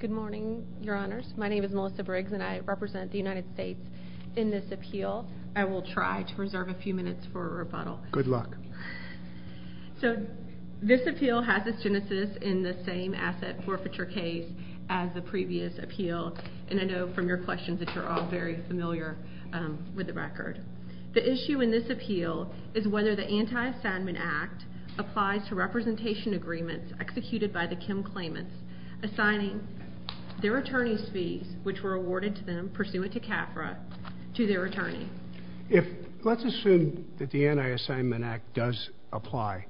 Good morning, your honors. My name is Melissa Briggs, and I represent the United States in this appeal. I will try to reserve a few minutes for rebuttal. Good luck. So this appeal has its genesis in the same asset forfeiture case as the previous appeal, and I know from your questions that you're all very familiar with the record. The issue in this appeal is whether the Anti-Assignment Act applies to representation agreements executed by the Kim claimants assigning their attorney's fees, which were awarded to them pursuant to CAFRA, to their attorney. Let's assume that the Anti-Assignment Act does apply.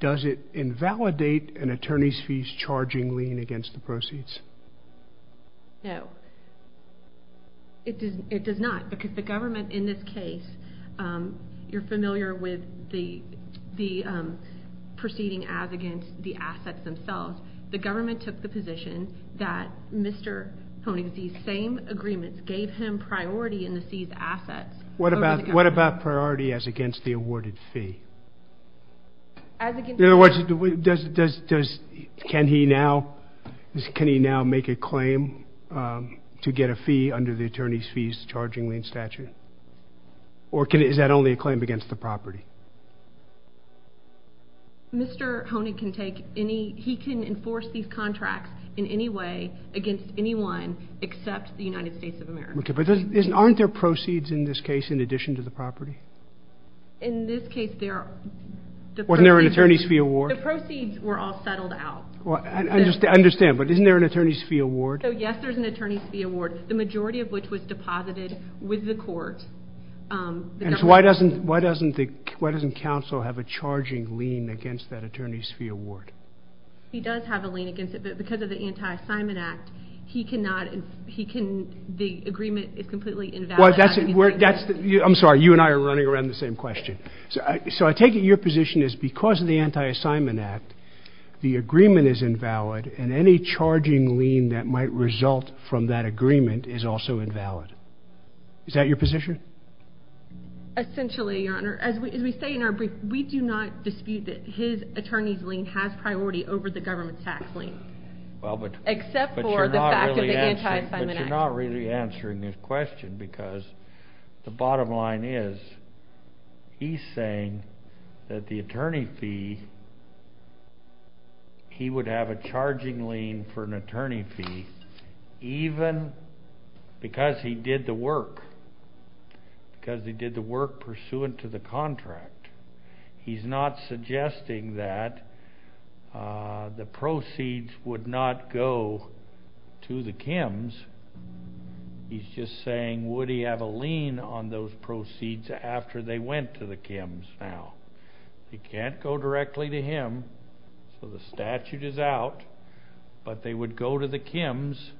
Does it invalidate an attorney's charging lien against the proceeds? No. It does not, because the government in this case, you're familiar with the proceeding as against the assets themselves. The government took the position that Mr. Poning's same agreements gave him priority in the seized assets. What about priority as against the awarded fee? In other words, can he now make a claim to get a fee under the attorney's fees charging lien statute? Or is that only a claim against the property? Mr. Poning can take any, he can enforce these contracts in any way against anyone except the United States of America. Okay, but aren't there proceeds in this case in addition to the property? In this case, there are. Wasn't there an attorney's fee award? The proceeds were all settled out. I understand, but isn't there an attorney's fee award? Yes, there's an attorney's fee award, the majority of which was deposited with the court. Why doesn't counsel have a charging lien against that attorney's fee award? He does have a lien against it, but because of the Anti-Assignment Act, the agreement is completely invalid. I'm sorry, you and I are running around the same question. So I take it your position is because of the Anti-Assignment Act, the agreement is invalid and any charging lien that might result from that agreement is also invalid. Is that your position? Essentially, Your Honor. As we say in our brief, we do not dispute that his attorney's lien has priority over the government's tax lien, except for the fact of the Anti-Assignment Act. You're not really answering this question because the bottom line is, he's saying that the attorney fee, he would have a charging lien for an attorney fee even because he did the work, because he did the work pursuant to the contract. He's not suggesting that the proceeds would not go to the Kims. He's just saying, would he have a lien on those proceeds after they went to the Kims? Now, it can't go directly to him, so the statute is out, but they would go to the Kims.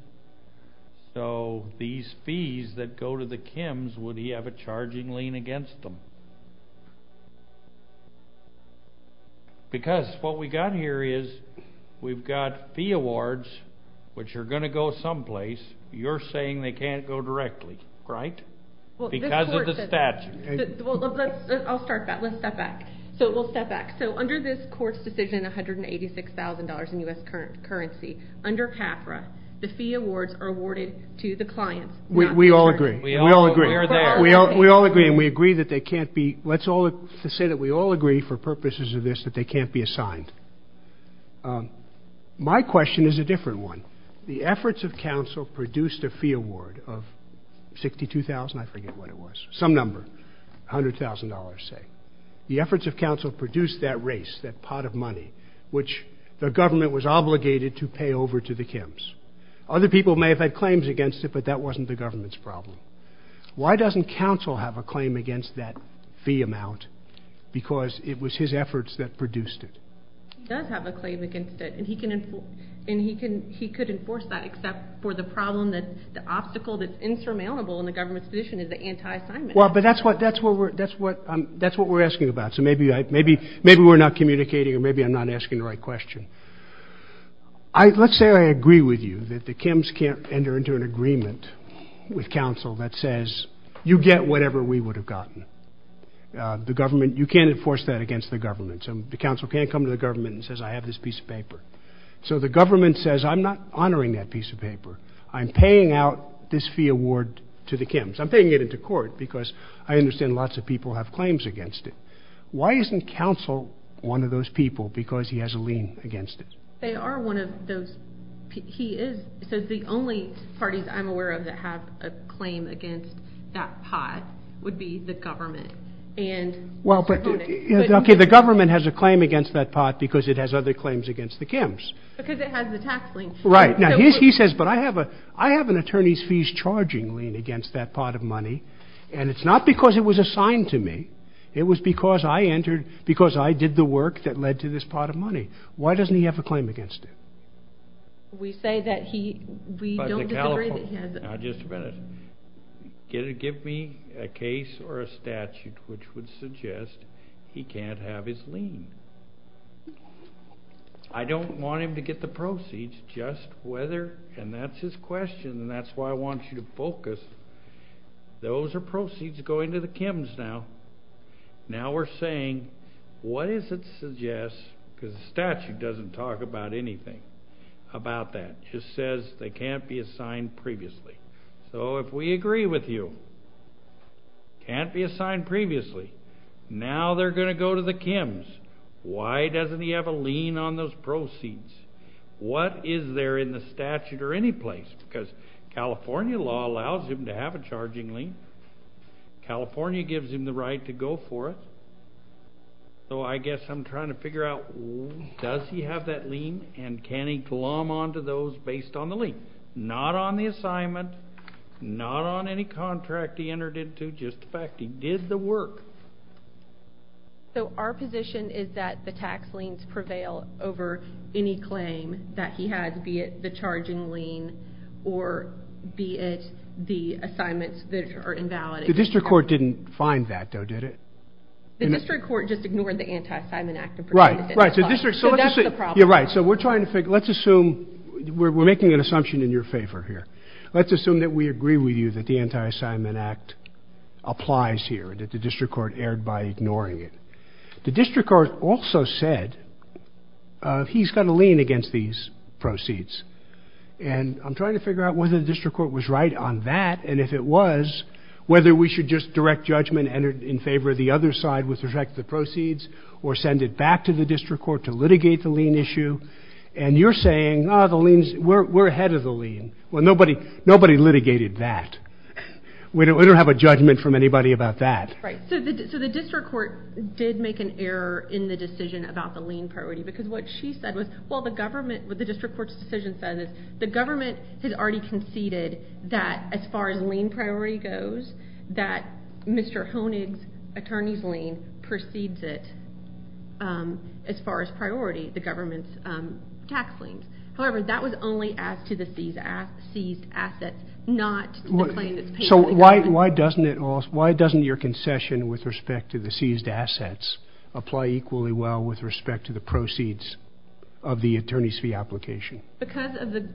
So these fees that go to the Kims, would he have a charging lien against them? Because what we've got here is, we've got fee awards, which are going to go someplace. You're saying they can't go directly, right? Because of the statute. I'll start that. Let's step back. So we'll step back. So under this court's decision, $186,000 in U.S. currency, under CAFRA, the fee awards are awarded to the client. We all agree. We all agree. We all agree, and we agree that they can't be, let's say that we all agree for purposes of this that they can't be assigned. My question is a different one. The efforts of counsel produced a fee award of $62,000, I forget what it was, some number, $100,000 say. The efforts of counsel produced that race, that pot of money, which the government was obligated to pay over to the Kims. Other people may have had claims against it, but that wasn't the government's problem. Why doesn't counsel have a claim against that fee amount? Because it was his efforts that produced it. He does have a claim against it, and he can enforce that, except for the problem that the obstacle that's insurmountable in the government's position is the anti-assignment. Well, but that's what we're asking about. So maybe we're not communicating, or maybe I'm not asking the right question. Let's say I agree with you that the Kims can't enter into an agreement with counsel that says, you get whatever we would have gotten. The government, you can't enforce that against the government, so the counsel can't come to the government and say, I have this piece of paper. So the government says, I'm not honoring that piece of paper, I'm paying out this fee award to the Kims. I'm paying it into court, because I understand lots of people have claims against it. Why isn't counsel one of those people, because he has a lien against it. They are one of those, he is, so the only parties I'm aware of that have a claim against that pot would be the government. And, well, but, okay, the government has a claim against that pot because it has other claims against the Kims. Because it has the tax lien. Right. Now, he says, but I have an attorney's fees charging lien against that pot of money, and it's not because it was assigned to me. It was because I entered, because I did the work that led to this pot of money. Why doesn't he have a claim against it? We say that he, we don't disagree that he has. Now, just a minute. Give me a case or a statute which would suggest he can't have his lien. I don't want him to get the proceeds, just whether, and that's his question, and that's why I want you to focus. Those are proceeds going to the Kims now. Now we're saying, what is it suggests, because the statute doesn't talk about anything about that. It just says they can't be assigned previously. So if we agree with you, can't be assigned previously, now they're going to go to the Kims. Why doesn't he have a lien on those proceeds? What is there in the statute or California gives him the right to go for it, so I guess I'm trying to figure out, does he have that lien, and can he glom onto those based on the lien? Not on the assignment, not on any contract he entered into, just the fact he did the work. So our position is that the tax liens prevail over any claim that he has, be it the charging lien, or be it the assignments that are invalid. The district court didn't find that, though, did it? The district court just ignored the Anti-Assignment Act. Right, so we're trying to figure, let's assume, we're making an assumption in your favor here. Let's assume that we agree with you that the Anti-Assignment Act applies here, that the district court erred by ignoring it. The district court also said he's got a lien against these proceeds, and I'm trying to figure out whether the district court was right on that, and if it was, whether we should just direct judgment in favor of the other side with respect to the proceeds, or send it back to the district court to litigate the lien issue, and you're saying, we're ahead of the lien. Well, nobody litigated that. We don't have a judgment from anybody about that. Right, so the district court did make an error in the decision about the lien priority, because what she said was, well, the government, what the district court's decision says is, the government has already conceded that as far as lien priority goes, that Mr. Honig's attorney's lien precedes it as far as priority, the government's tax liens. However, that was only as to the seized assets, not the claim that's paid to the government. So why doesn't your concession with respect to the seized assets apply equally well with respect to the proceeds of the attorney's fee application? Because of the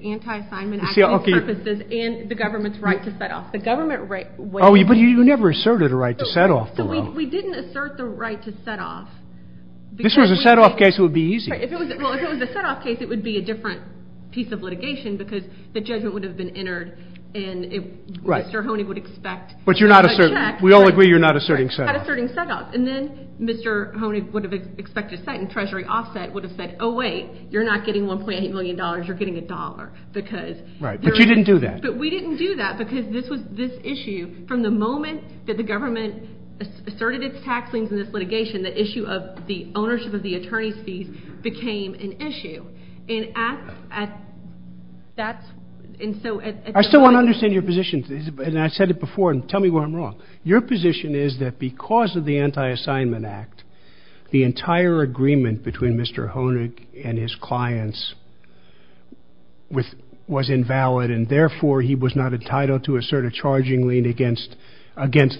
anti-assignment purposes and the government's right to set off. Oh, but you never asserted a right to set off. We didn't assert the right to set off. This was a set off case, it would be easy. Well, if it was a set off case, it would be a different piece of litigation, because the judgment would have been entered, and then Mr. Honig would have expected to set, and Treasury Offset would have said, oh, wait, you're not getting $1.8 million, you're getting a dollar. Right, but you didn't do that. But we didn't do that, because this issue, from the moment that the government asserted its tax liens in this litigation, the issue of the ownership of the attorney's fees became an issue. I still don't understand your position, and I said it before, and tell me where I'm wrong. Because of the anti-assignment act, the entire agreement between Mr. Honig and his clients was invalid, and therefore, he was not entitled to assert a charging lien against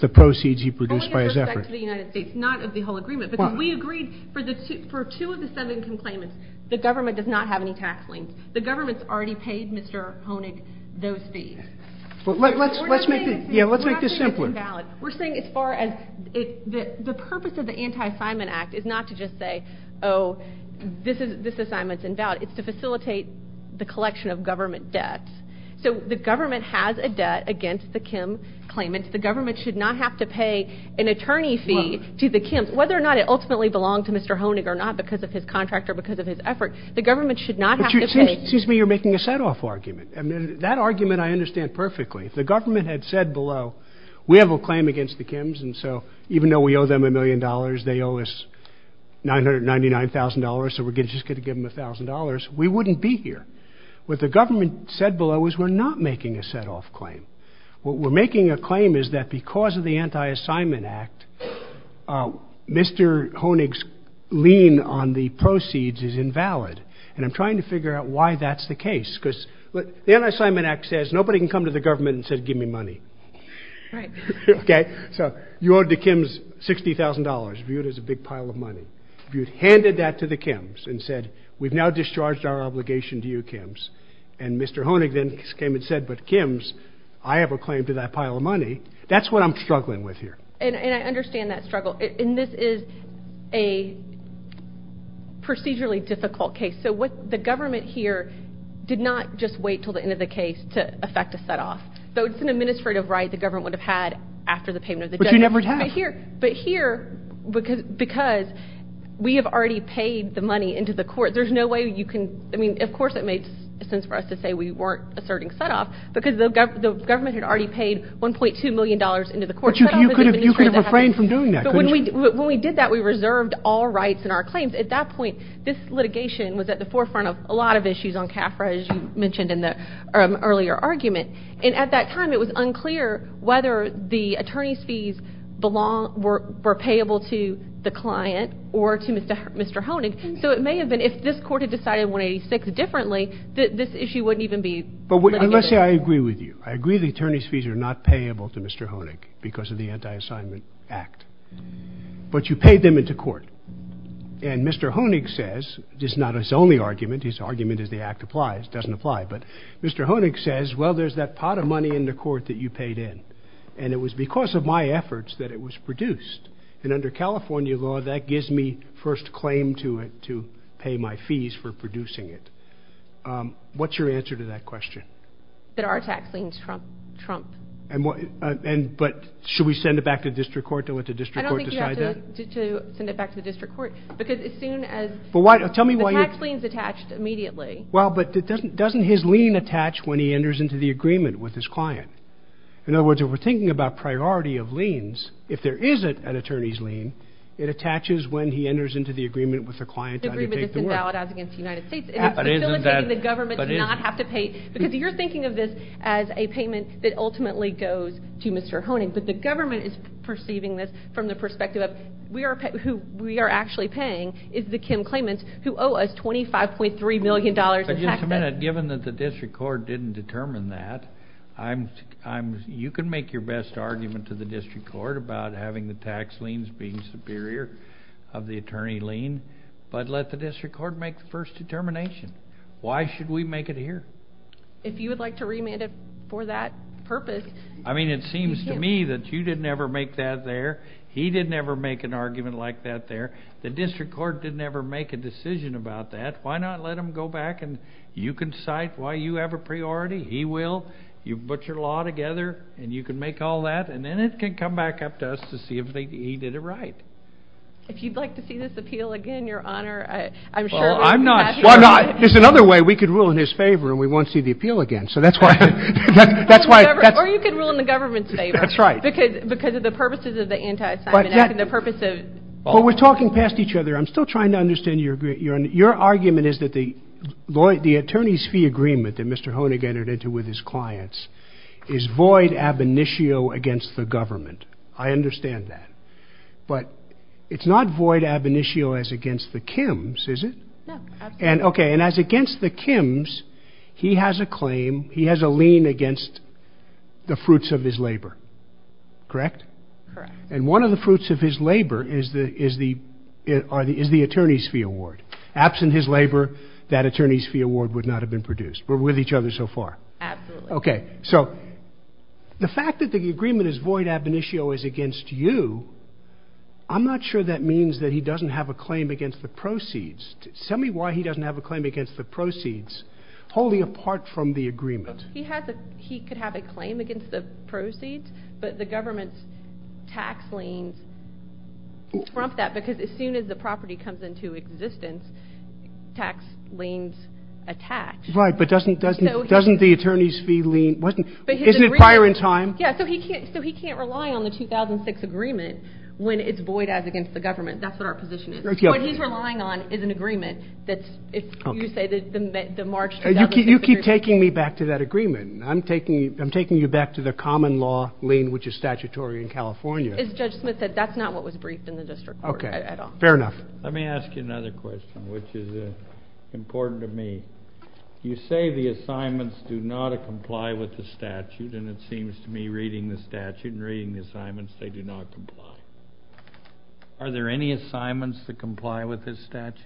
the proceeds he produced by his efforts. Only with respect to the United States, not of the whole agreement, because we agreed for two of the seven complainants, the government does not have any tax liens. The government's already paid Mr. Honig those fees. Let's make this simpler. We're not saying it's invalid. We're saying as far as the purpose of the anti-assignment act is not to just say, oh, this assignment's invalid. It's to facilitate the collection of government debt. So the government has a debt against the Kim claimant. The government should not have to pay an attorney fee to the Kims, whether or not it ultimately belonged to Mr. Honig or not, because of his contract or because of his effort. The government should not have to pay. Excuse me, you're making a set-off argument. That argument I understand perfectly. If the government had said below, we have a claim against the Kims, and so even though we owe them a million dollars, they owe us $999,000, so we're just going to give them $1,000, we wouldn't be here. What the government said below is we're not making a set-off claim. What we're making a claim is that because of the anti-assignment act, Mr. Honig's lien on the proceeds is invalid, and I'm trying to figure out why that's the case, because the anti-assignment act says nobody can come to the government and say, give me money. Right. Okay? So you owe the Kims $60,000, viewed as a big pile of money. You've handed that to the Kims and said, we've now discharged our obligation to you, Kims. And Mr. Honig then came and said, but Kims, I have a claim to that pile of money. That's what I'm struggling with here. And I understand that struggle. And this is a procedurally difficult case. So what the government here did not just wait until the end of the case to effect a set-off. Though it's an administrative right the government would have had after the payment of the judgment. But you never have. But here, because we have already paid the money into the court, there's no way you can, I mean, of course it makes sense for us to say we weren't asserting set-off, because the government had already paid $1.2 million into the court. But you could have refrained from doing that, couldn't you? But when we did that, we reserved all rights in our claims. At that point, this litigation was at the forefront of a lot of issues on CAFRA, as you mentioned in the earlier argument. And at that time, it was unclear whether the attorney's fees were payable to the client or to Mr. Honig. So it may have been, if this court had decided 186 differently, this issue wouldn't even be litigated. But let's say I agree with you. I agree the attorney's fees are not payable to Mr. Honig because of the Anti-Assignment Act. But you paid them into court. And Mr. Honig says, this is not his only argument, his argument is the Act applies, doesn't apply, but Mr. Honig says, well, there's that pot of money in the court that you paid in. And it was because of my efforts that it was produced. And under California law, that gives me first claim to pay my fees for producing it. What's your answer to that question? That our tax liens trump. But should we send it back to district court to let the district court decide that? To send it back to the district court. Because as soon as... Tell me why... The tax lien's attached immediately. Well, but doesn't his lien attach when he enters into the agreement with his client? In other words, if we're thinking about priority of liens, if there isn't an attorney's lien, it attaches when he enters into the agreement with the client to undertake the work. The agreement isn't valid as against the United States. It's facilitating the government to not have to pay... But isn't that... Because you're thinking of this as a payment that ultimately goes to Mr. Honig. But the government is perceiving this from the perspective of who we are actually paying is the Kim claimants who owe us $25.3 million in taxes. But just a minute, given that the district court didn't determine that, you can make your best argument to the district court about having the tax liens being superior of the attorney lien, but let the district court make the first determination. Why should we make it here? If you would like to remand it for that purpose, you can. I mean, it seems to me that you didn't ever make that there. He didn't ever make an argument like that there. The district court didn't ever make a decision about that. Why not let him go back and you can cite why you have a priority. He will. You put your law together, and you can make all that, and then it can come back up to us to see if he did it right. If you'd like to see this appeal again, Your Honor, I'm sure... Well, I'm not sure. There's another way we could rule in his favor, and we won't see the appeal again. So that's why... Or you could rule in the government's favor. That's right. Because of the purposes of the Anti-Assignment Act and the purpose of... But we're talking past each other. I'm still trying to understand your argument. Your argument is that the attorney's fee agreement that Mr. Honig entered into with his clients is void ab initio against the government. I understand that. But it's not void ab initio as against the Kims, is it? No, absolutely not. Okay, and as against the Kims, he has a claim, he has a lien against the fruits of his labor, correct? Correct. And one of the fruits of his labor is the attorney's fee award. Absent his labor, that attorney's fee award would not have been produced. We're with each other so far. Absolutely. Okay, so the fact that the agreement is void ab initio is against you, I'm not sure that means that he doesn't have a claim against the proceeds. Tell me why he doesn't have a claim against the proceeds wholly apart from the agreement. He could have a claim against the proceeds, but the government's tax liens trump that because as soon as the property comes into existence, tax liens attach. Right, but doesn't the attorney's fee lien... Isn't it prior in time? Yeah, so he can't rely on the 2006 agreement when it's void as against the government. That's what our position is. What he's relying on is an agreement that's, you say, the March 2006 agreement. You keep taking me back to that agreement. I'm taking you back to the common law lien, which is statutory in California. As Judge Smith said, that's not what was briefed in the district court at all. Okay, fair enough. Let me ask you another question, which is important to me. You say the assignments do not comply with the statute, and it seems to me reading the statute and reading the assignments, they do not comply. Are there any assignments that comply with this statute?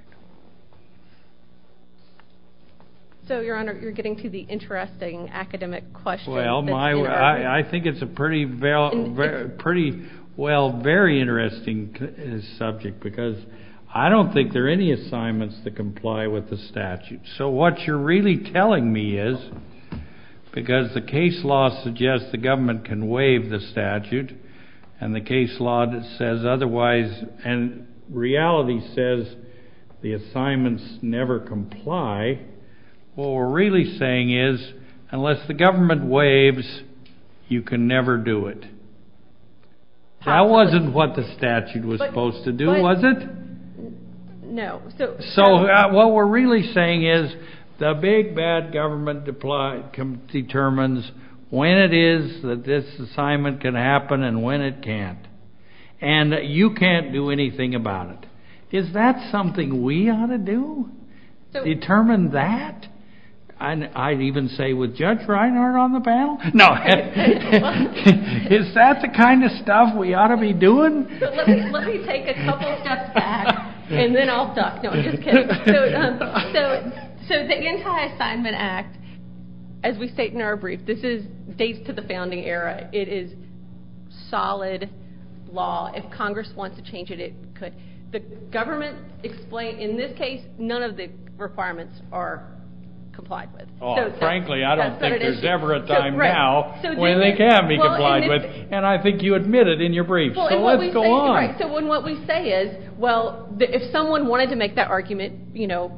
So, Your Honor, you're getting to the interesting academic question. Well, I think it's a pretty, well, very interesting subject because I don't think there are any assignments that comply with the statute. So what you're really telling me is because the case law suggests the government can waive the statute and the case law says otherwise and reality says the assignments never comply, what we're really saying is unless the government waives, you can never do it. That wasn't what the statute was supposed to do, was it? No. So what we're really saying is the big bad government determines when it is that this assignment can happen and when it can't, and you can't do anything about it. Is that something we ought to do? Determine that? I'd even say with Judge Reinhart on the panel? No. Is that the kind of stuff we ought to be doing? Let me take a couple steps back, and then I'll talk. No, I'm just kidding. So the Anti-Assignment Act, as we state in our brief, this dates to the founding era. It is solid law. If Congress wants to change it, it could. The government explained in this case none of the requirements are complied with. Frankly, I don't think there's ever a time now when they can be complied with, and I think you admit it in your brief, so let's go on. All right, so what we say is, well, if someone wanted to make that argument, you know,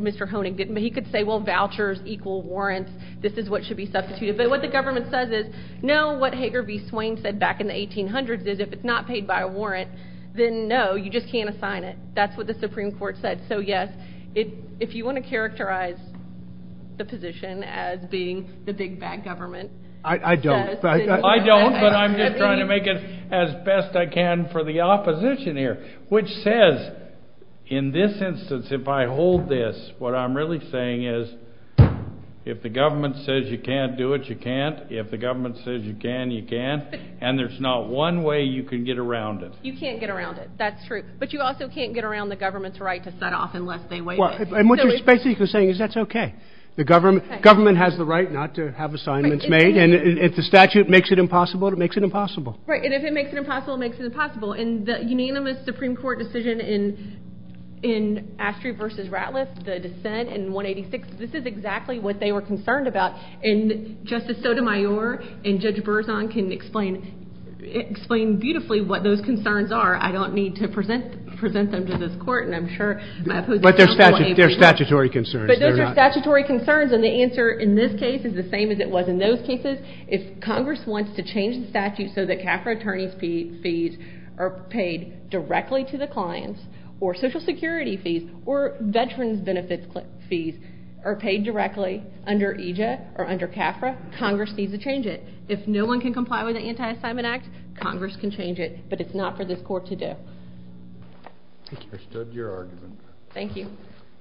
Mr. Honig, he could say, well, vouchers equal warrants. This is what should be substituted. But what the government says is, no, what Hager v. Swain said back in the 1800s is, if it's not paid by a warrant, then no, you just can't assign it. That's what the Supreme Court said. So, yes, if you want to characterize the position as being the big bad government. I don't. I don't, but I'm just trying to make it as best I can for the opposition here, which says, in this instance, if I hold this, what I'm really saying is, if the government says you can't do it, you can't. If the government says you can, you can. And there's not one way you can get around it. You can't get around it. That's true. But you also can't get around the government's right to set off unless they waive it. And what you're basically saying is that's okay. The government has the right not to have assignments made. And if the statute makes it impossible, it makes it impossible. Right. And if it makes it impossible, it makes it impossible. And the unanimous Supreme Court decision in Astry v. Ratliff, the dissent in 186, this is exactly what they were concerned about. And Justice Sotomayor and Judge Berzon can explain beautifully what those concerns are. I don't need to present them to this Court, and I'm sure my opposition will be able to. But they're statutory concerns. But those are statutory concerns. And the answer in this case is the same as it was in those cases. If Congress wants to change the statute so that CAFRA attorneys' fees are paid directly to the clients or Social Security fees or Veterans Benefits fees are paid directly under EJ or under CAFRA, Congress needs to change it. If no one can comply with the Anti-Assignment Act, Congress can change it. But it's not for this Court to do. I understood your argument. Thank you.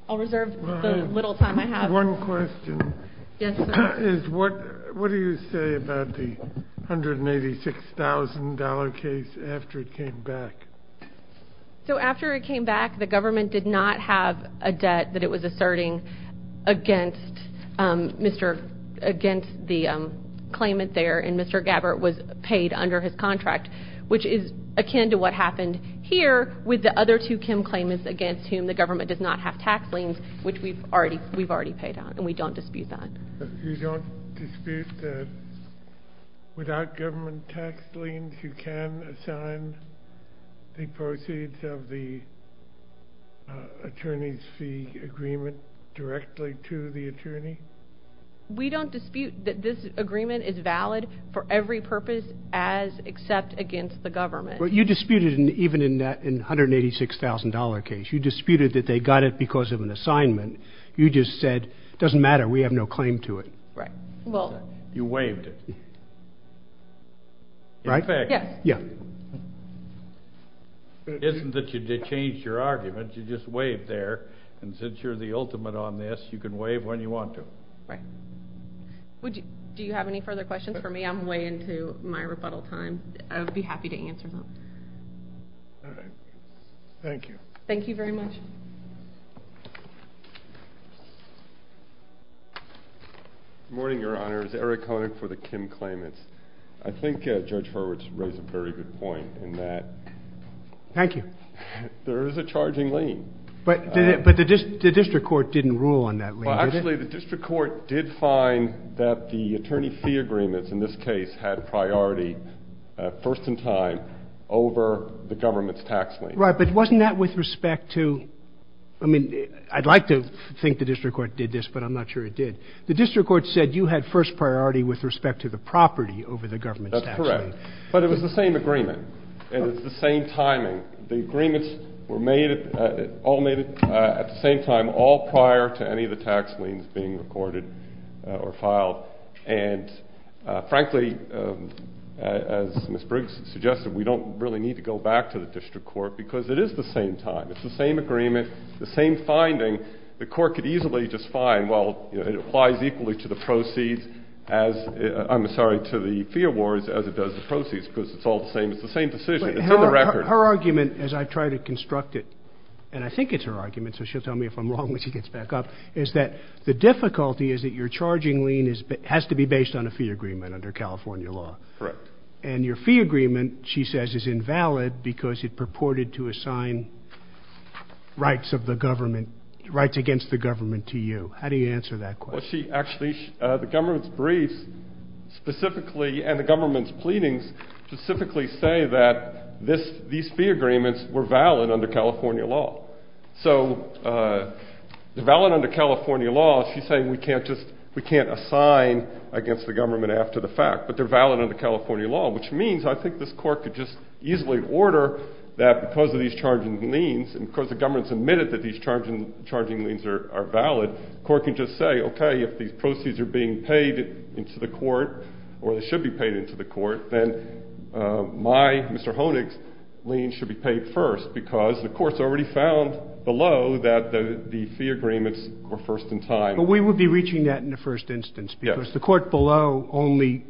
I'll reserve the little time I have. One question. Yes, sir. What do you say about the $186,000 case after it came back? So after it came back, the government did not have a debt that it was asserting against the claimant there, and Mr. Gabbard was paid under his contract, which is akin to what happened here with the other two Kim claimants against whom the government does not have tax liens, which we've already paid on, and we don't dispute that. You don't dispute that without government tax liens, you can assign the proceeds of the attorney's fee agreement directly to the attorney? We don't dispute that this agreement is valid for every purpose as except against the government. Well, you disputed even in that $186,000 case. You disputed that they got it because of an assignment. You just said it doesn't matter, we have no claim to it. Right. You waived it. Right? Yes. Yeah. It isn't that you changed your argument. You just waived there, and since you're the ultimate on this, you can waive when you want to. Right. Do you have any further questions for me? I'm way into my rebuttal time. I would be happy to answer them. All right. Thank you. Thank you very much. Good morning, Your Honor. This is Eric Koenig for the Kim claimants. I think Judge Horowitz raised a very good point in that there is a charging lien. But the district court didn't rule on that lien, did it? Actually, the district court did find that the attorney fee agreements in this case had priority, first in time, over the government's tax lien. Right. But wasn't that with respect to – I mean, I'd like to think the district court did this, but I'm not sure it did. The district court said you had first priority with respect to the property over the government's tax lien. That's correct. But it was the same agreement, and it's the same timing. The agreements were made – all made at the same time, all prior to any of the tax liens being recorded or filed. And, frankly, as Ms. Briggs suggested, we don't really need to go back to the district court because it is the same time. It's the same agreement, the same finding. The court could easily just find, well, it applies equally to the proceeds as – I'm sorry, to the fee awards as it does the proceeds because it's all the same. It's the same decision. It's in the record. Her argument, as I try to construct it – and I think it's her argument, so she'll tell me if I'm wrong when she gets back up – is that the difficulty is that your charging lien has to be based on a fee agreement under California law. Correct. And your fee agreement, she says, is invalid because it purported to assign rights of the government – rights against the government to you. How do you answer that question? Well, she actually – the government's briefs specifically and the government's pleadings specifically say that these fee agreements were valid under California law. So they're valid under California law. She's saying we can't just – we can't assign against the government after the fact, but they're valid under California law, which means I think this court could just easily order that because of these charging liens and because the government's admitted that these charging liens are valid, the court can just say, okay, if these proceeds are being paid into the court or they should be paid into the court, then my, Mr. Honig's, lien should be paid first because the court's already found below that the fee agreements were first in time. But we would be reaching that in the first instance because the court below only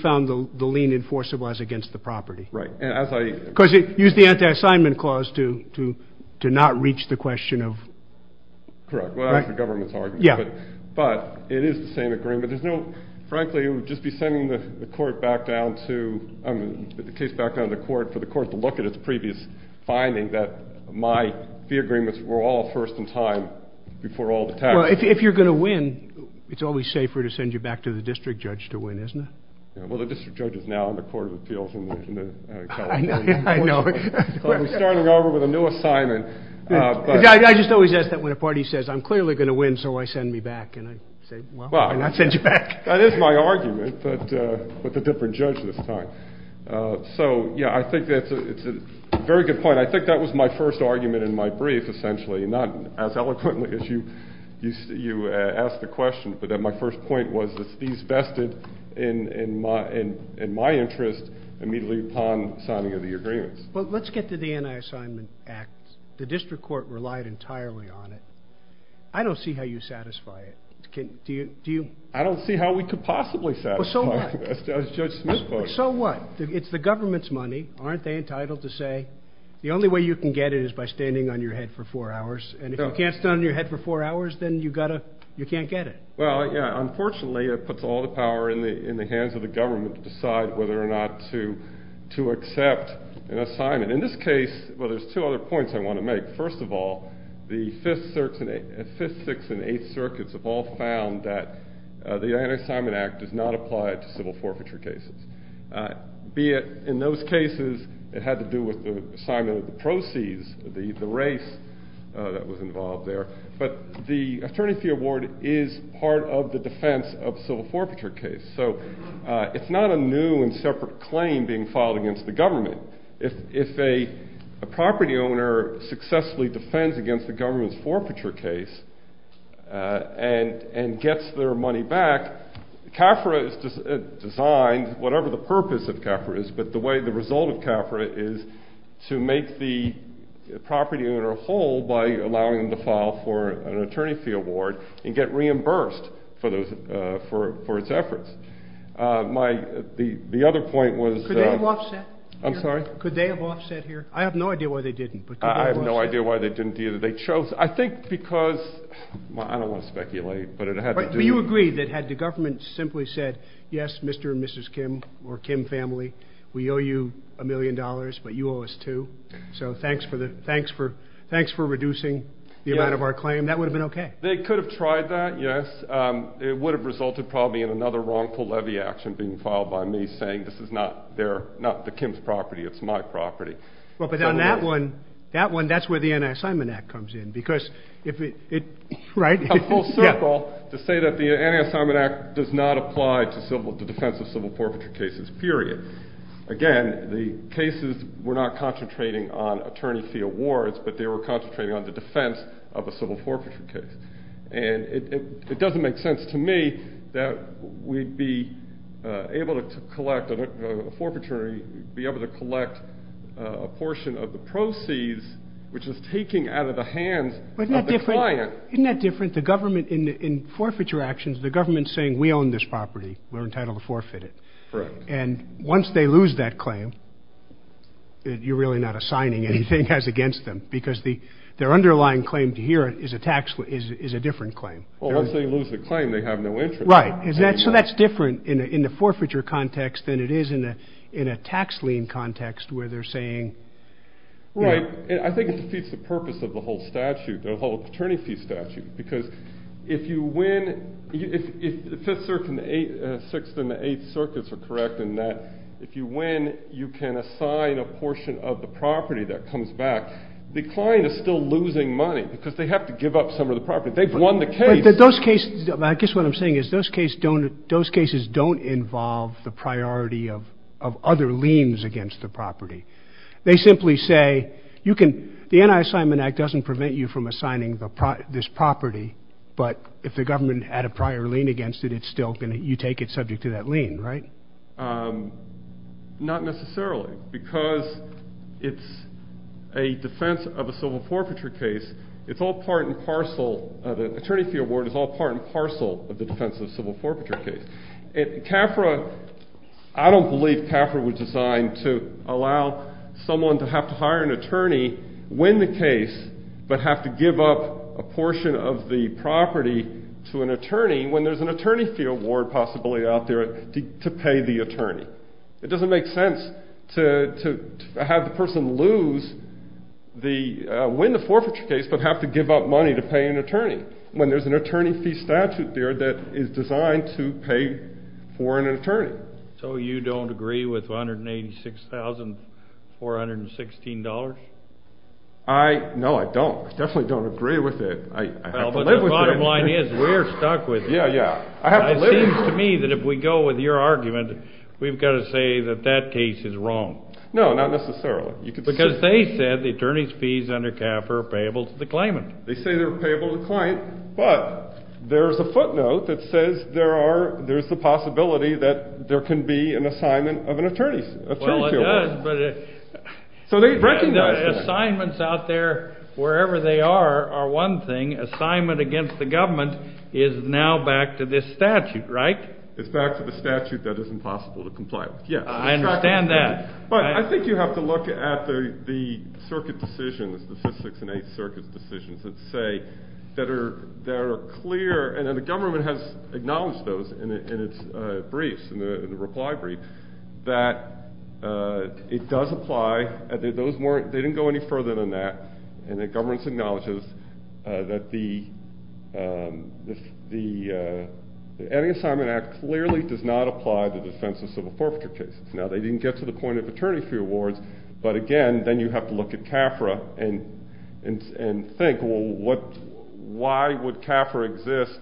found the lien enforceable as against the property. Right. Because it used the anti-assignment clause to not reach the question of – Correct. Well, that was the government's argument. But it is the same agreement. There's no – frankly, it would just be sending the court back down to – the case back down to the court for the court to look at its previous finding that my fee agreements were all first in time before all the taxes. Well, if you're going to win, it's always safer to send you back to the district judge to win, isn't it? Well, the district judge is now in the Court of Appeals in California. I know. So we're starting over with a new assignment. I just always ask that when a party says, I'm clearly going to win, so why send me back? And I say, well, why not send you back? That is my argument, but with a different judge this time. So, yeah, I think that's a very good point. I think that was my first argument in my brief, essentially, not as eloquently as you asked the question, but that my first point was that these vested in my interest immediately upon signing of the agreements. Well, let's get to the Anti-Assignment Act. The district court relied entirely on it. I don't see how you satisfy it. Do you? I don't see how we could possibly satisfy it, as Judge Smith quoted. So what? It's the government's money. Aren't they entitled to say the only way you can get it is by standing on your head for four hours? And if you can't stand on your head for four hours, then you can't get it. Well, yeah, unfortunately it puts all the power in the hands of the government to decide whether or not to accept an assignment. In this case, well, there's two other points I want to make. First of all, the Fifth, Sixth, and Eighth Circuits have all found that the Anti-Assignment Act does not apply to civil forfeiture cases, be it in those cases it had to do with the assignment of the proceeds, the race that was involved there. But the Attorney Fee Award is part of the defense of civil forfeiture cases. So it's not a new and separate claim being filed against the government. If a property owner successfully defends against the government's forfeiture case and gets their money back, CAFRA is designed, whatever the purpose of CAFRA is, but the way the result of CAFRA is to make the property owner whole by allowing them to file for an Attorney Fee Award and get reimbursed for its efforts. The other point was... Could they have offset? I'm sorry? Could they have offset here? I have no idea why they didn't, but could they have offset? I have no idea why they didn't either. They chose, I think because, I don't want to speculate, but it had to do... We owe you a million dollars, but you owe us two, so thanks for reducing the amount of our claim. That would have been okay. They could have tried that, yes. It would have resulted probably in another wrongful levy action being filed by me saying, this is not the Kim's property, it's my property. But on that one, that's where the Anti-Assignment Act comes in. A full circle to say that the Anti-Assignment Act does not apply to defense of civil forfeiture cases, period. Again, the cases were not concentrating on Attorney Fee Awards, but they were concentrating on the defense of a civil forfeiture case. And it doesn't make sense to me that we'd be able to collect a forfeiture, be able to collect a portion of the proceeds, which is taken out of the hands of the client. Isn't that different? In forfeiture actions, the government is saying, we own this property, we're entitled to forfeit it. Correct. And once they lose that claim, you're really not assigning anything as against them, because their underlying claim to here is a different claim. Well, once they lose the claim, they have no interest. Right. So that's different in the forfeiture context than it is in a tax lien context where they're saying... Right. I think it defeats the purpose of the whole statute, the whole attorney fee statute, because if you win, if the Fifth Circuit and the Sixth and the Eighth Circuits are correct in that, if you win, you can assign a portion of the property that comes back. The client is still losing money because they have to give up some of the property. They've won the case. But those cases, I guess what I'm saying is those cases don't involve the priority of other liens against the property. They simply say, you can... the Anti-Assignment Act doesn't prevent you from assigning this property, but if the government had a prior lien against it, it's still going to... you take it subject to that lien, right? Not necessarily, because it's a defense of a civil forfeiture case. It's all part and parcel... the attorney fee award is all part and parcel of the defense of a civil forfeiture case. CAFRA... I don't believe CAFRA was designed to allow someone to have to hire an attorney, win the case, but have to give up a portion of the property to an attorney when there's an attorney fee award possibly out there to pay the attorney. It doesn't make sense to have the person lose the... win the forfeiture case, but have to give up money to pay an attorney when there's an attorney fee statute there that is designed to pay for an attorney. So you don't agree with $186,416? I... no, I don't. I definitely don't agree with it. I have to live with it. Well, but the bottom line is, we're stuck with it. Yeah, yeah. I have to live with it. It seems to me that if we go with your argument, we've got to say that that case is wrong. No, not necessarily. Because they said the attorney's fees under CAFRA are payable to the claimant. They say they're payable to the client, but there's a footnote that says there are... there's the possibility that there can be an assignment of an attorney fee award. Well, it does, but... So they recognize... Assignments out there, wherever they are, are one thing. Assignment against the government is now back to this statute, right? It's back to the statute that is impossible to comply with, yes. I understand that. But I think you have to look at the circuit decisions, the 5th, 6th, and 8th Circuit decisions that say that there are clear... and the government has acknowledged those in its briefs, in the reply brief, that it does apply. Those weren't... they didn't go any further than that. And the government acknowledges that the Adding Assignment Act clearly does not apply to the defense of civil forfeiture cases. Now, they didn't get to the point of attorney fee awards, but again, then you have to look at CAFRA and think, well, what... why would CAFRA exist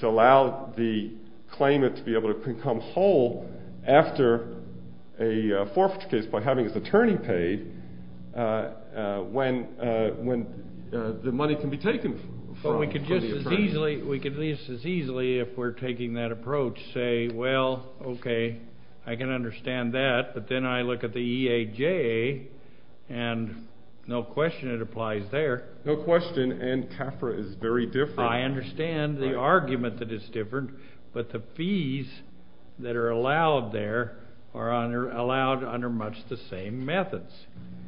to allow the claimant to be able to become whole after a forfeiture case by having his attorney paid when the money can be taken from the attorney? We could at least as easily, if we're taking that approach, say, well, okay, I can understand that, but then I look at the EAJ, and no question it applies there. No question, and CAFRA is very different. I understand the argument that it's different, but the fees that are allowed there are allowed under much the same methods.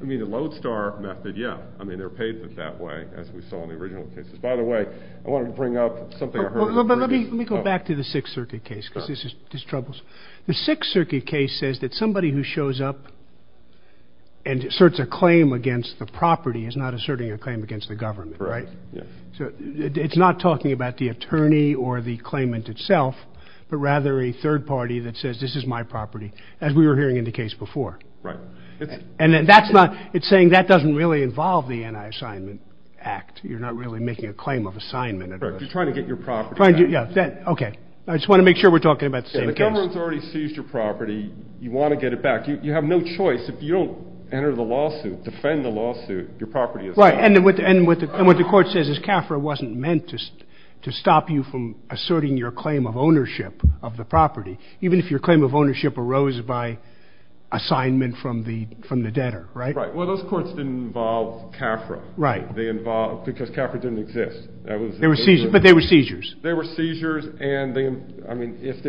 I mean, the Lodestar method, yeah. I mean, they're paid that way, as we saw in the original cases. By the way, I wanted to bring up something I heard... Let me go back to the Sixth Circuit case, because this troubles... The Sixth Circuit case says that somebody who shows up and asserts a claim against the property is not asserting a claim against the government, right? Yeah. It's not talking about the attorney or the claimant itself, but rather a third party that says, this is my property, as we were hearing in the case before. Right. And that's not... it's saying that doesn't really involve the Anti-Assignment Act. You're not really making a claim of assignment. Right. You're trying to get your property back. Okay. I just want to make sure we're talking about the same case. Yeah, the government's already seized your property. You want to get it back. You have no choice. If you don't enter the lawsuit, defend the lawsuit, your property is gone. Right, and what the court says is CAFRA wasn't meant to stop you from asserting your claim of ownership of the property, even if your claim of ownership arose by assignment from the debtor, right? Right. Well, those courts didn't involve CAFRA. Right. They involved... because CAFRA didn't exist. They were seizures, but they were seizures. They were seizures, and they... I mean, if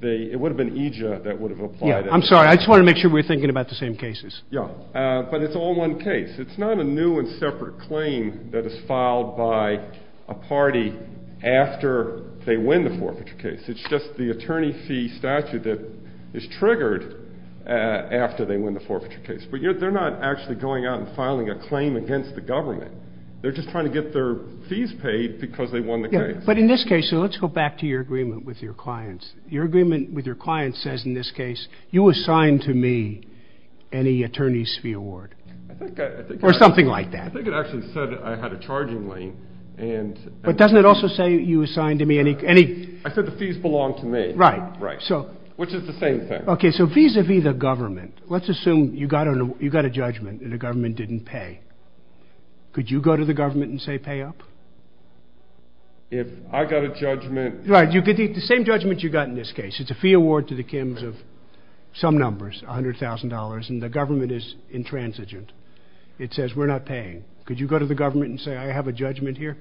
they... it would have been EJIA that would have applied... Yeah, I'm sorry. I just wanted to make sure we were thinking about the same cases. Yeah, but it's all one case. It's not a new and separate claim that is filed by a party after they win the forfeiture case. It's just the attorney fee statute that is triggered after they win the forfeiture case. But they're not actually going out and filing a claim against the government. They're just trying to get their fees paid because they won the case. Yeah, but in this case... so let's go back to your agreement with your clients. Your agreement with your clients says in this case, you assign to me any attorney's fee award. I think I... Or something like that. I think it actually said I had a charging lien, and... But doesn't it also say you assign to me any... I said the fees belong to me. Right. Right. Which is the same thing. Okay, so vis-a-vis the government, let's assume you got a judgment and the government didn't pay. Could you go to the government and say pay up? If I got a judgment... Right, the same judgment you got in this case. It's a fee award to the Kims of some numbers, $100,000, and the government is intransigent. It says we're not paying. Could you go to the government and say I have a judgment here?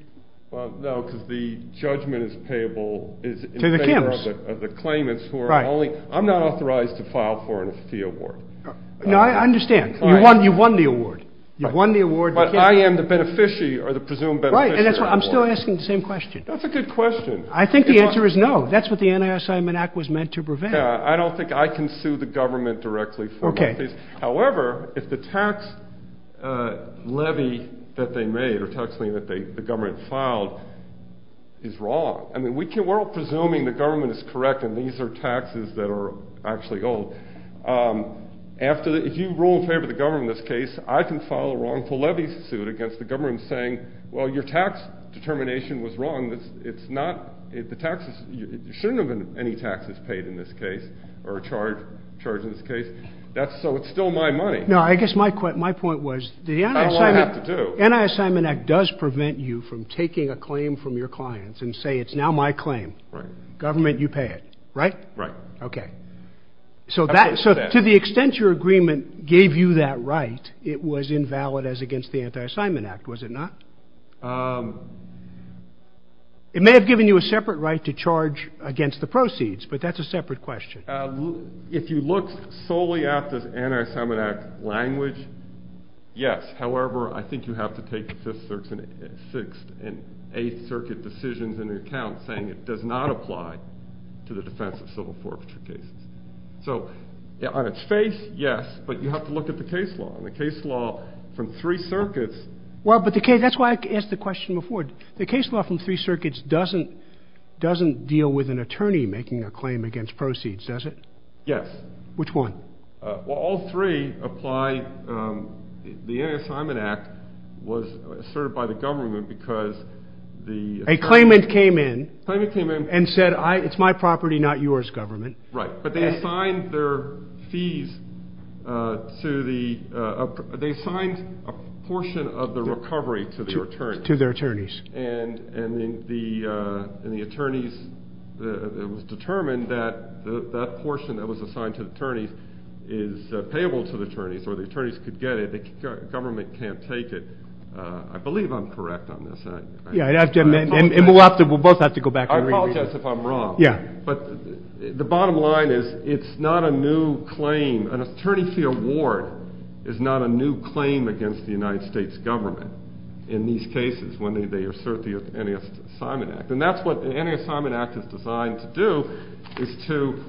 Well, no, because the judgment is payable... To the Kims.... in favor of the claimants who are only... Right. I'm not authorized to file for a fee award. No, I understand. All right. You've won the award. Right. You've won the award. But I am the beneficiary or the presumed beneficiary of the award. Right, and that's why I'm still asking the same question. That's a good question. I think the answer is no. Yeah, I don't think I can sue the government directly for my fees. Okay. However, if the tax levy that they made or tax levy that the government filed is wrong... I mean, we're all presuming the government is correct and these are taxes that are actually old. If you rule in favor of the government in this case, I can file a wrongful levy suit against the government saying... Well, your tax determination was wrong. It's not... The taxes... There shouldn't have been any taxes paid in this case or charged in this case. So, it's still my money. No, I guess my point was... That's not what I have to do. The Anti-Assignment Act does prevent you from taking a claim from your clients and say, it's now my claim. Right. Government, you pay it. Right? Right. Okay. So, to the extent your agreement gave you that right, it was invalid as against the Anti-Assignment Act, was it not? It may have given you a separate right to charge against the proceeds, but that's a separate question. If you look solely at the Anti-Assignment Act language, yes. However, I think you have to take the Fifth, Sixth, and Eighth Circuit decisions into account saying it does not apply to the defense of civil forfeiture cases. So, on its face, yes, but you have to look at the case law. The case law from three circuits... Well, but the case... That's why I asked the question before. The case law from three circuits doesn't deal with an attorney making a claim against proceeds, does it? Yes. Which one? Well, all three apply... The Anti-Assignment Act was asserted by the government because the... A claimant came in... A claimant came in... And said, it's my property, not yours, government. Right. But they assigned their fees to the... They assigned a portion of the recovery to their attorneys. And the attorneys... it was determined that that portion that was assigned to the attorneys is payable to the attorneys or the attorneys could get it. The government can't take it. I believe I'm correct on this. Yeah, and we'll both have to go back and... I apologize if I'm wrong. Yeah. But the bottom line is it's not a new claim. An attorney fee award is not a new claim against the United States government in these cases when they assert the Anti-Assignment Act. And that's what the Anti-Assignment Act is designed to do is to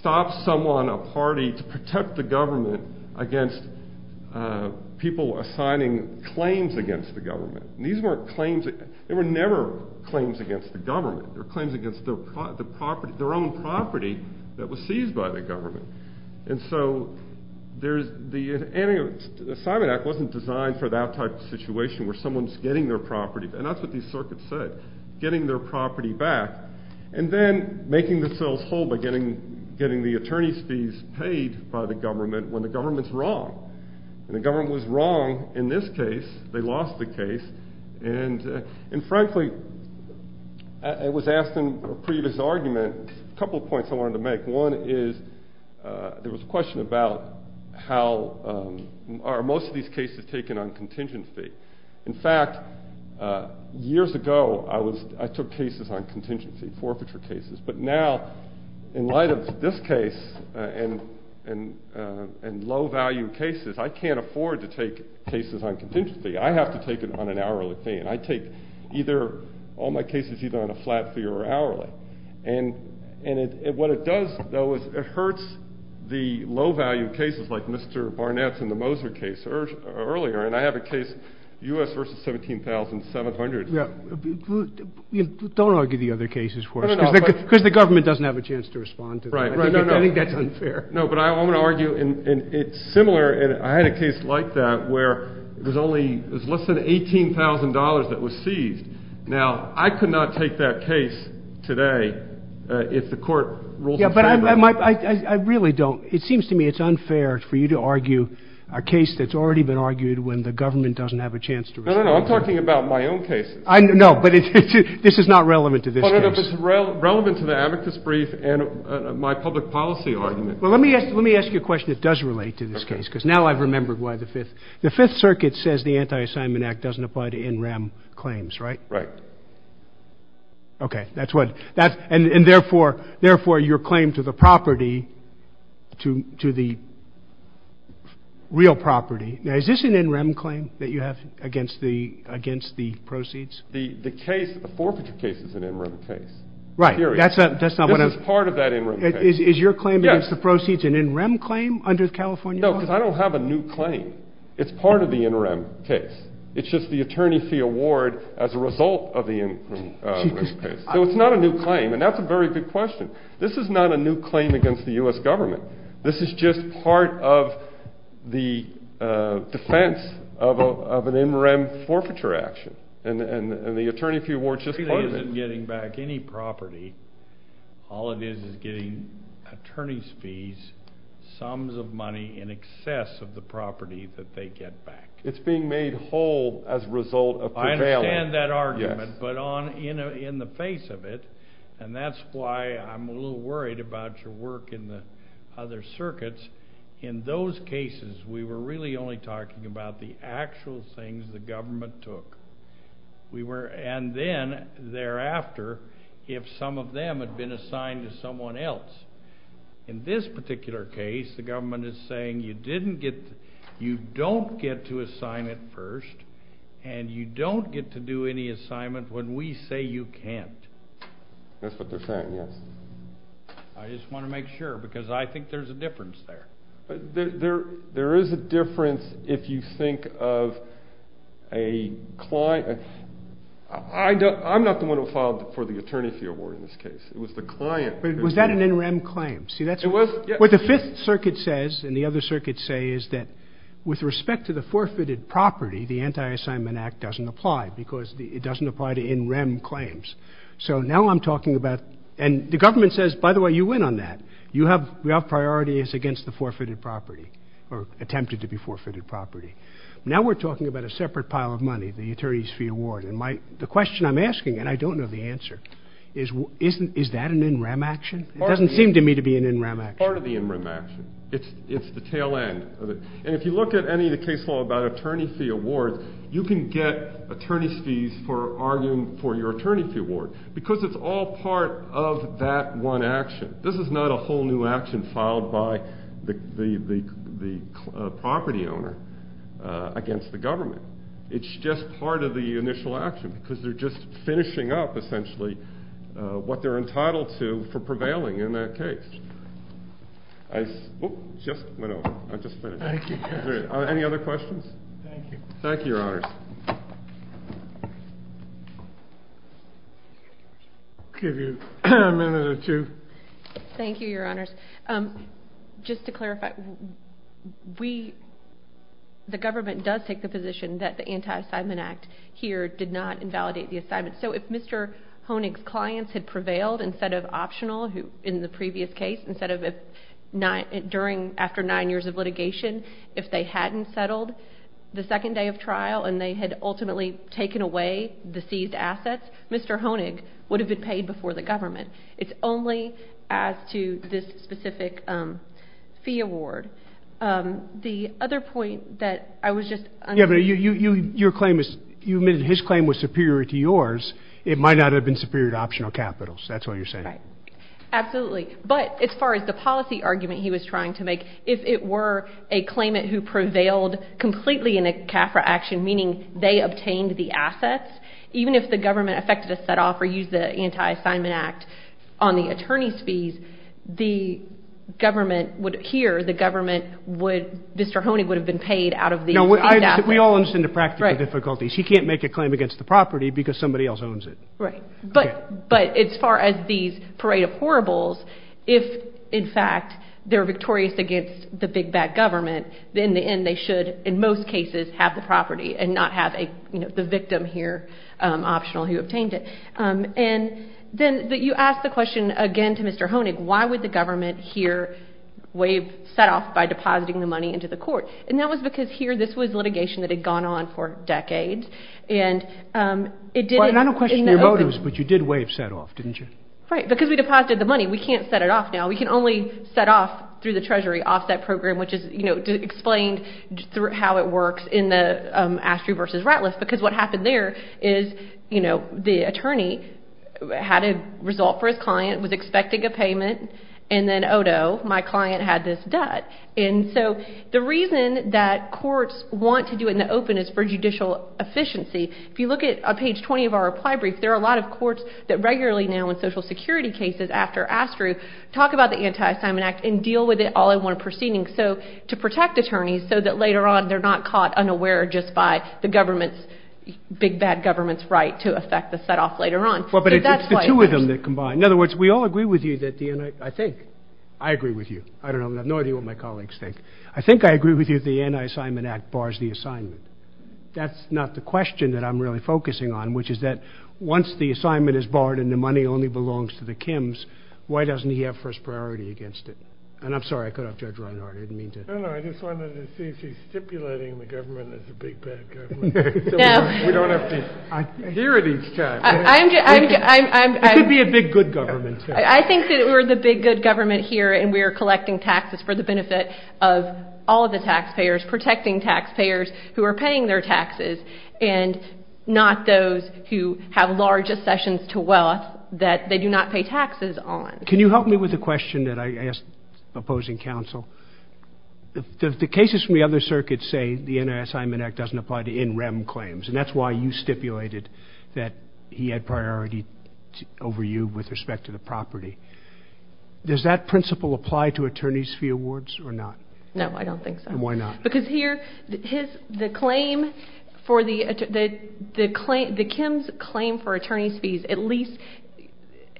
stop someone, a party, to protect the government against people assigning claims against the government. These weren't claims... they were never claims against the government. They were claims against their own property that was seized by the government. And so the Anti-Assignment Act wasn't designed for that type of situation where someone's getting their property. And that's what these circuits said, getting their property back. And then making themselves whole by getting the attorney's fees paid by the government when the government's wrong. And the government was wrong in this case. They lost the case. And frankly, I was asked in a previous argument a couple of points I wanted to make. One is there was a question about how are most of these cases taken on contingency. In fact, years ago I took cases on contingency, forfeiture cases. But now, in light of this case and low-value cases, I can't afford to take cases on contingency. I have to take it on an hourly fee. And I take all my cases either on a flat fee or hourly. And what it does, though, is it hurts the low-value cases like Mr. Barnett's and the Moser case earlier. And I have a case, U.S. v. 17,700. Don't argue the other cases for us because the government doesn't have a chance to respond to them. I think that's unfair. No, but I want to argue, and it's similar. I had a case like that where it was less than $18,000 that was seized. Now, I could not take that case today if the court rules in favor of it. Yeah, but I really don't. It seems to me it's unfair for you to argue a case that's already been argued when the government doesn't have a chance to respond to it. No, no, no, I'm talking about my own cases. No, but this is not relevant to this case. No, no, no, but it's relevant to the abacus brief and my public policy argument. Well, let me ask you a question that does relate to this case because now I've remembered why the Fifth. The Fifth Circuit says the Anti-Assignment Act doesn't apply to NREM claims, right? Right. Okay, that's what. And, therefore, your claim to the property, to the real property. Now, is this an NREM claim that you have against the proceeds? The case, the forfeiture case is an NREM case. Right. Period. This is part of that NREM case. Is your claim against the proceeds an NREM claim under the California law? No, because I don't have a new claim. It's part of the NREM case. It's just the attorney fee award as a result of the NREM case. So it's not a new claim, and that's a very good question. This is not a new claim against the U.S. government. This is just part of the defense of an NREM forfeiture action, and the attorney fee award is just part of it. It isn't getting back any property. All it is is getting attorney's fees, sums of money in excess of the property that they get back. It's being made whole as a result of prevailing. I understand that argument. Yes. But in the face of it, and that's why I'm a little worried about your work in the other circuits, in those cases we were really only talking about the actual things the government took. And then thereafter, if some of them had been assigned to someone else, in this particular case the government is saying you don't get to assign it first, and you don't get to do any assignment when we say you can't. That's what they're saying, yes. I just want to make sure because I think there's a difference there. There is a difference if you think of a client. I'm not the one who filed for the attorney fee award in this case. It was the client. Was that an NREM claim? It was. What the Fifth Circuit says and the other circuits say is that with respect to the forfeited property, the Anti-Assignment Act doesn't apply because it doesn't apply to NREM claims. So now I'm talking about, and the government says, by the way, you win on that. We have priorities against the forfeited property or attempted to be forfeited property. Now we're talking about a separate pile of money, the attorney's fee award. And the question I'm asking, and I don't know the answer, is that an NREM action? It doesn't seem to me to be an NREM action. Part of the NREM action. It's the tail end of it. And if you look at any of the case law about attorney fee awards, you can get attorney's fees for arguing for your attorney fee award because it's all part of that one action. This is not a whole new action filed by the property owner against the government. It's just part of the initial action because they're just finishing up, essentially, what they're entitled to for prevailing in that case. I just went over. I just finished. Thank you. Any other questions? Thank you. Thank you, Your Honors. I'll give you a minute or two. Thank you, Your Honors. Just to clarify, the government does take the position that the Anti-Assignment Act here did not invalidate the assignment. So if Mr. Honig's clients had prevailed instead of optional in the previous case, after nine years of litigation, if they hadn't settled the second day of trial and they had ultimately taken away the seized assets, Mr. Honig would have been paid before the government. It's only as to this specific fee award. The other point that I was just under... Yeah, but you admitted his claim was superior to yours. It might not have been superior to optional capitals. That's all you're saying. Right. Absolutely. But as far as the policy argument he was trying to make, if it were a claimant who prevailed completely in a CAFRA action, meaning they obtained the assets, even if the government effected a set-off or used the Anti-Assignment Act on the attorney's fees, the government would, here, the government would, Mr. Honig would have been paid out of the seized assets. We all understand the practical difficulties. He can't make a claim against the property because somebody else owns it. Right. But as far as these parade of horribles, if, in fact, they're victorious against the big, bad government, then in the end they should, in most cases, have the property and not have the victim here, optional, who obtained it. And then you asked the question again to Mr. Honig, why would the government here set off by depositing the money into the court? And that was because here this was litigation that had gone on for decades. Well, I don't question your motives, but you did waive set-off, didn't you? Right, because we deposited the money. We can't set it off now. We can only set off through the Treasury Offset Program, which is explained through how it works in the Astry v. Ratliff, because what happened there is the attorney had a result for his client, was expecting a payment, and then, oh, no, my client had this debt. And so the reason that courts want to do it in the open is for judicial efficiency. If you look at page 20 of our reply brief, there are a lot of courts that regularly now in Social Security cases after Astry talk about the Anti-Assignment Act and deal with it all in one proceeding to protect attorneys so that later on they're not caught unaware just by the government's big, bad government's right to affect the set-off later on. Well, but it's the two of them that combine. In other words, we all agree with you that the anti—I think I agree with you. I don't know. I have no idea what my colleagues think. I think I agree with you that the Anti-Assignment Act bars the assignment. That's not the question that I'm really focusing on, which is that once the assignment is barred and the money only belongs to the Kims, why doesn't he have first priority against it? And I'm sorry, I cut off Judge Reinhart. I didn't mean to. No, no, I just wanted to see if he's stipulating the government as a big, bad government so we don't have to hear it each time. It could be a big, good government, too. I think that we're the big, good government here, and we're collecting taxes for the benefit of all of the taxpayers, protecting taxpayers who are paying their taxes, and not those who have large accessions to wealth that they do not pay taxes on. Can you help me with a question that I asked opposing counsel? The cases from the other circuits say the Anti-Assignment Act doesn't apply to NREM claims, and that's why you stipulated that he had priority over you with respect to the property. Does that principle apply to attorney's fee awards or not? No, I don't think so. Why not? Because here, the Kims' claim for attorney's fees at least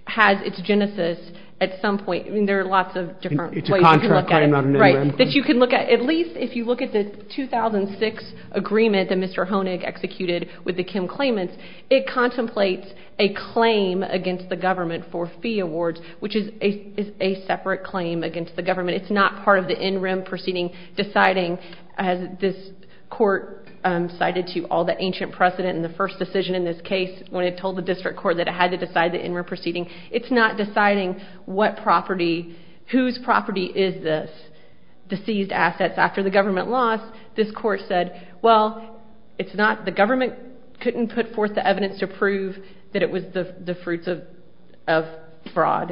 has its genesis at some point. I mean, there are lots of different ways you can look at it. It's a contract claim, not an NREM claim. At least if you look at the 2006 agreement that Mr. Honig executed with the Kim claimants, it contemplates a claim against the government for fee awards, which is a separate claim against the government. It's not part of the NREM proceeding deciding, as this court cited to you, all the ancient precedent in the first decision in this case when it told the district court that it had to decide the NREM proceeding. It's not deciding whose property is this, the seized assets. After the government lost, this court said, well, the government couldn't put forth the evidence to prove that it was the fruits of fraud.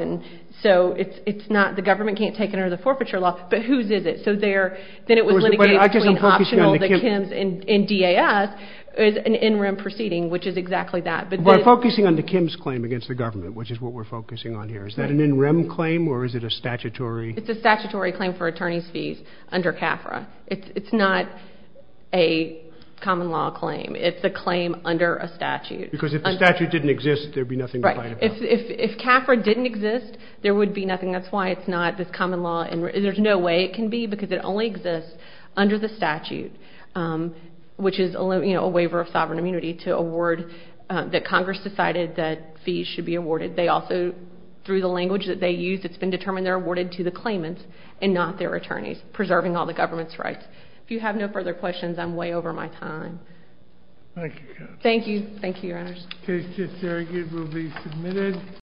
So it's not the government can't take it under the forfeiture law, but whose is it? So then it was litigated between optional, the Kims and DAS, as an NREM proceeding, which is exactly that. We're focusing on the Kims claim against the government, which is what we're focusing on here. Is that an NREM claim or is it a statutory? It's a statutory claim for attorney's fees under CAFRA. It's not a common law claim. It's a claim under a statute. Because if the statute didn't exist, there'd be nothing to fight about. If CAFRA didn't exist, there would be nothing. That's why it's not this common law. There's no way it can be because it only exists under the statute, which is a waiver of sovereign immunity to award that Congress decided that fees should be awarded. They also, through the language that they use, it's been determined they're awarded to the claimants and not their attorneys, preserving all the government's rights. If you have no further questions, I'm way over my time. Thank you. Thank you. Thank you, Your Honors. Case to surrogate will be submitted.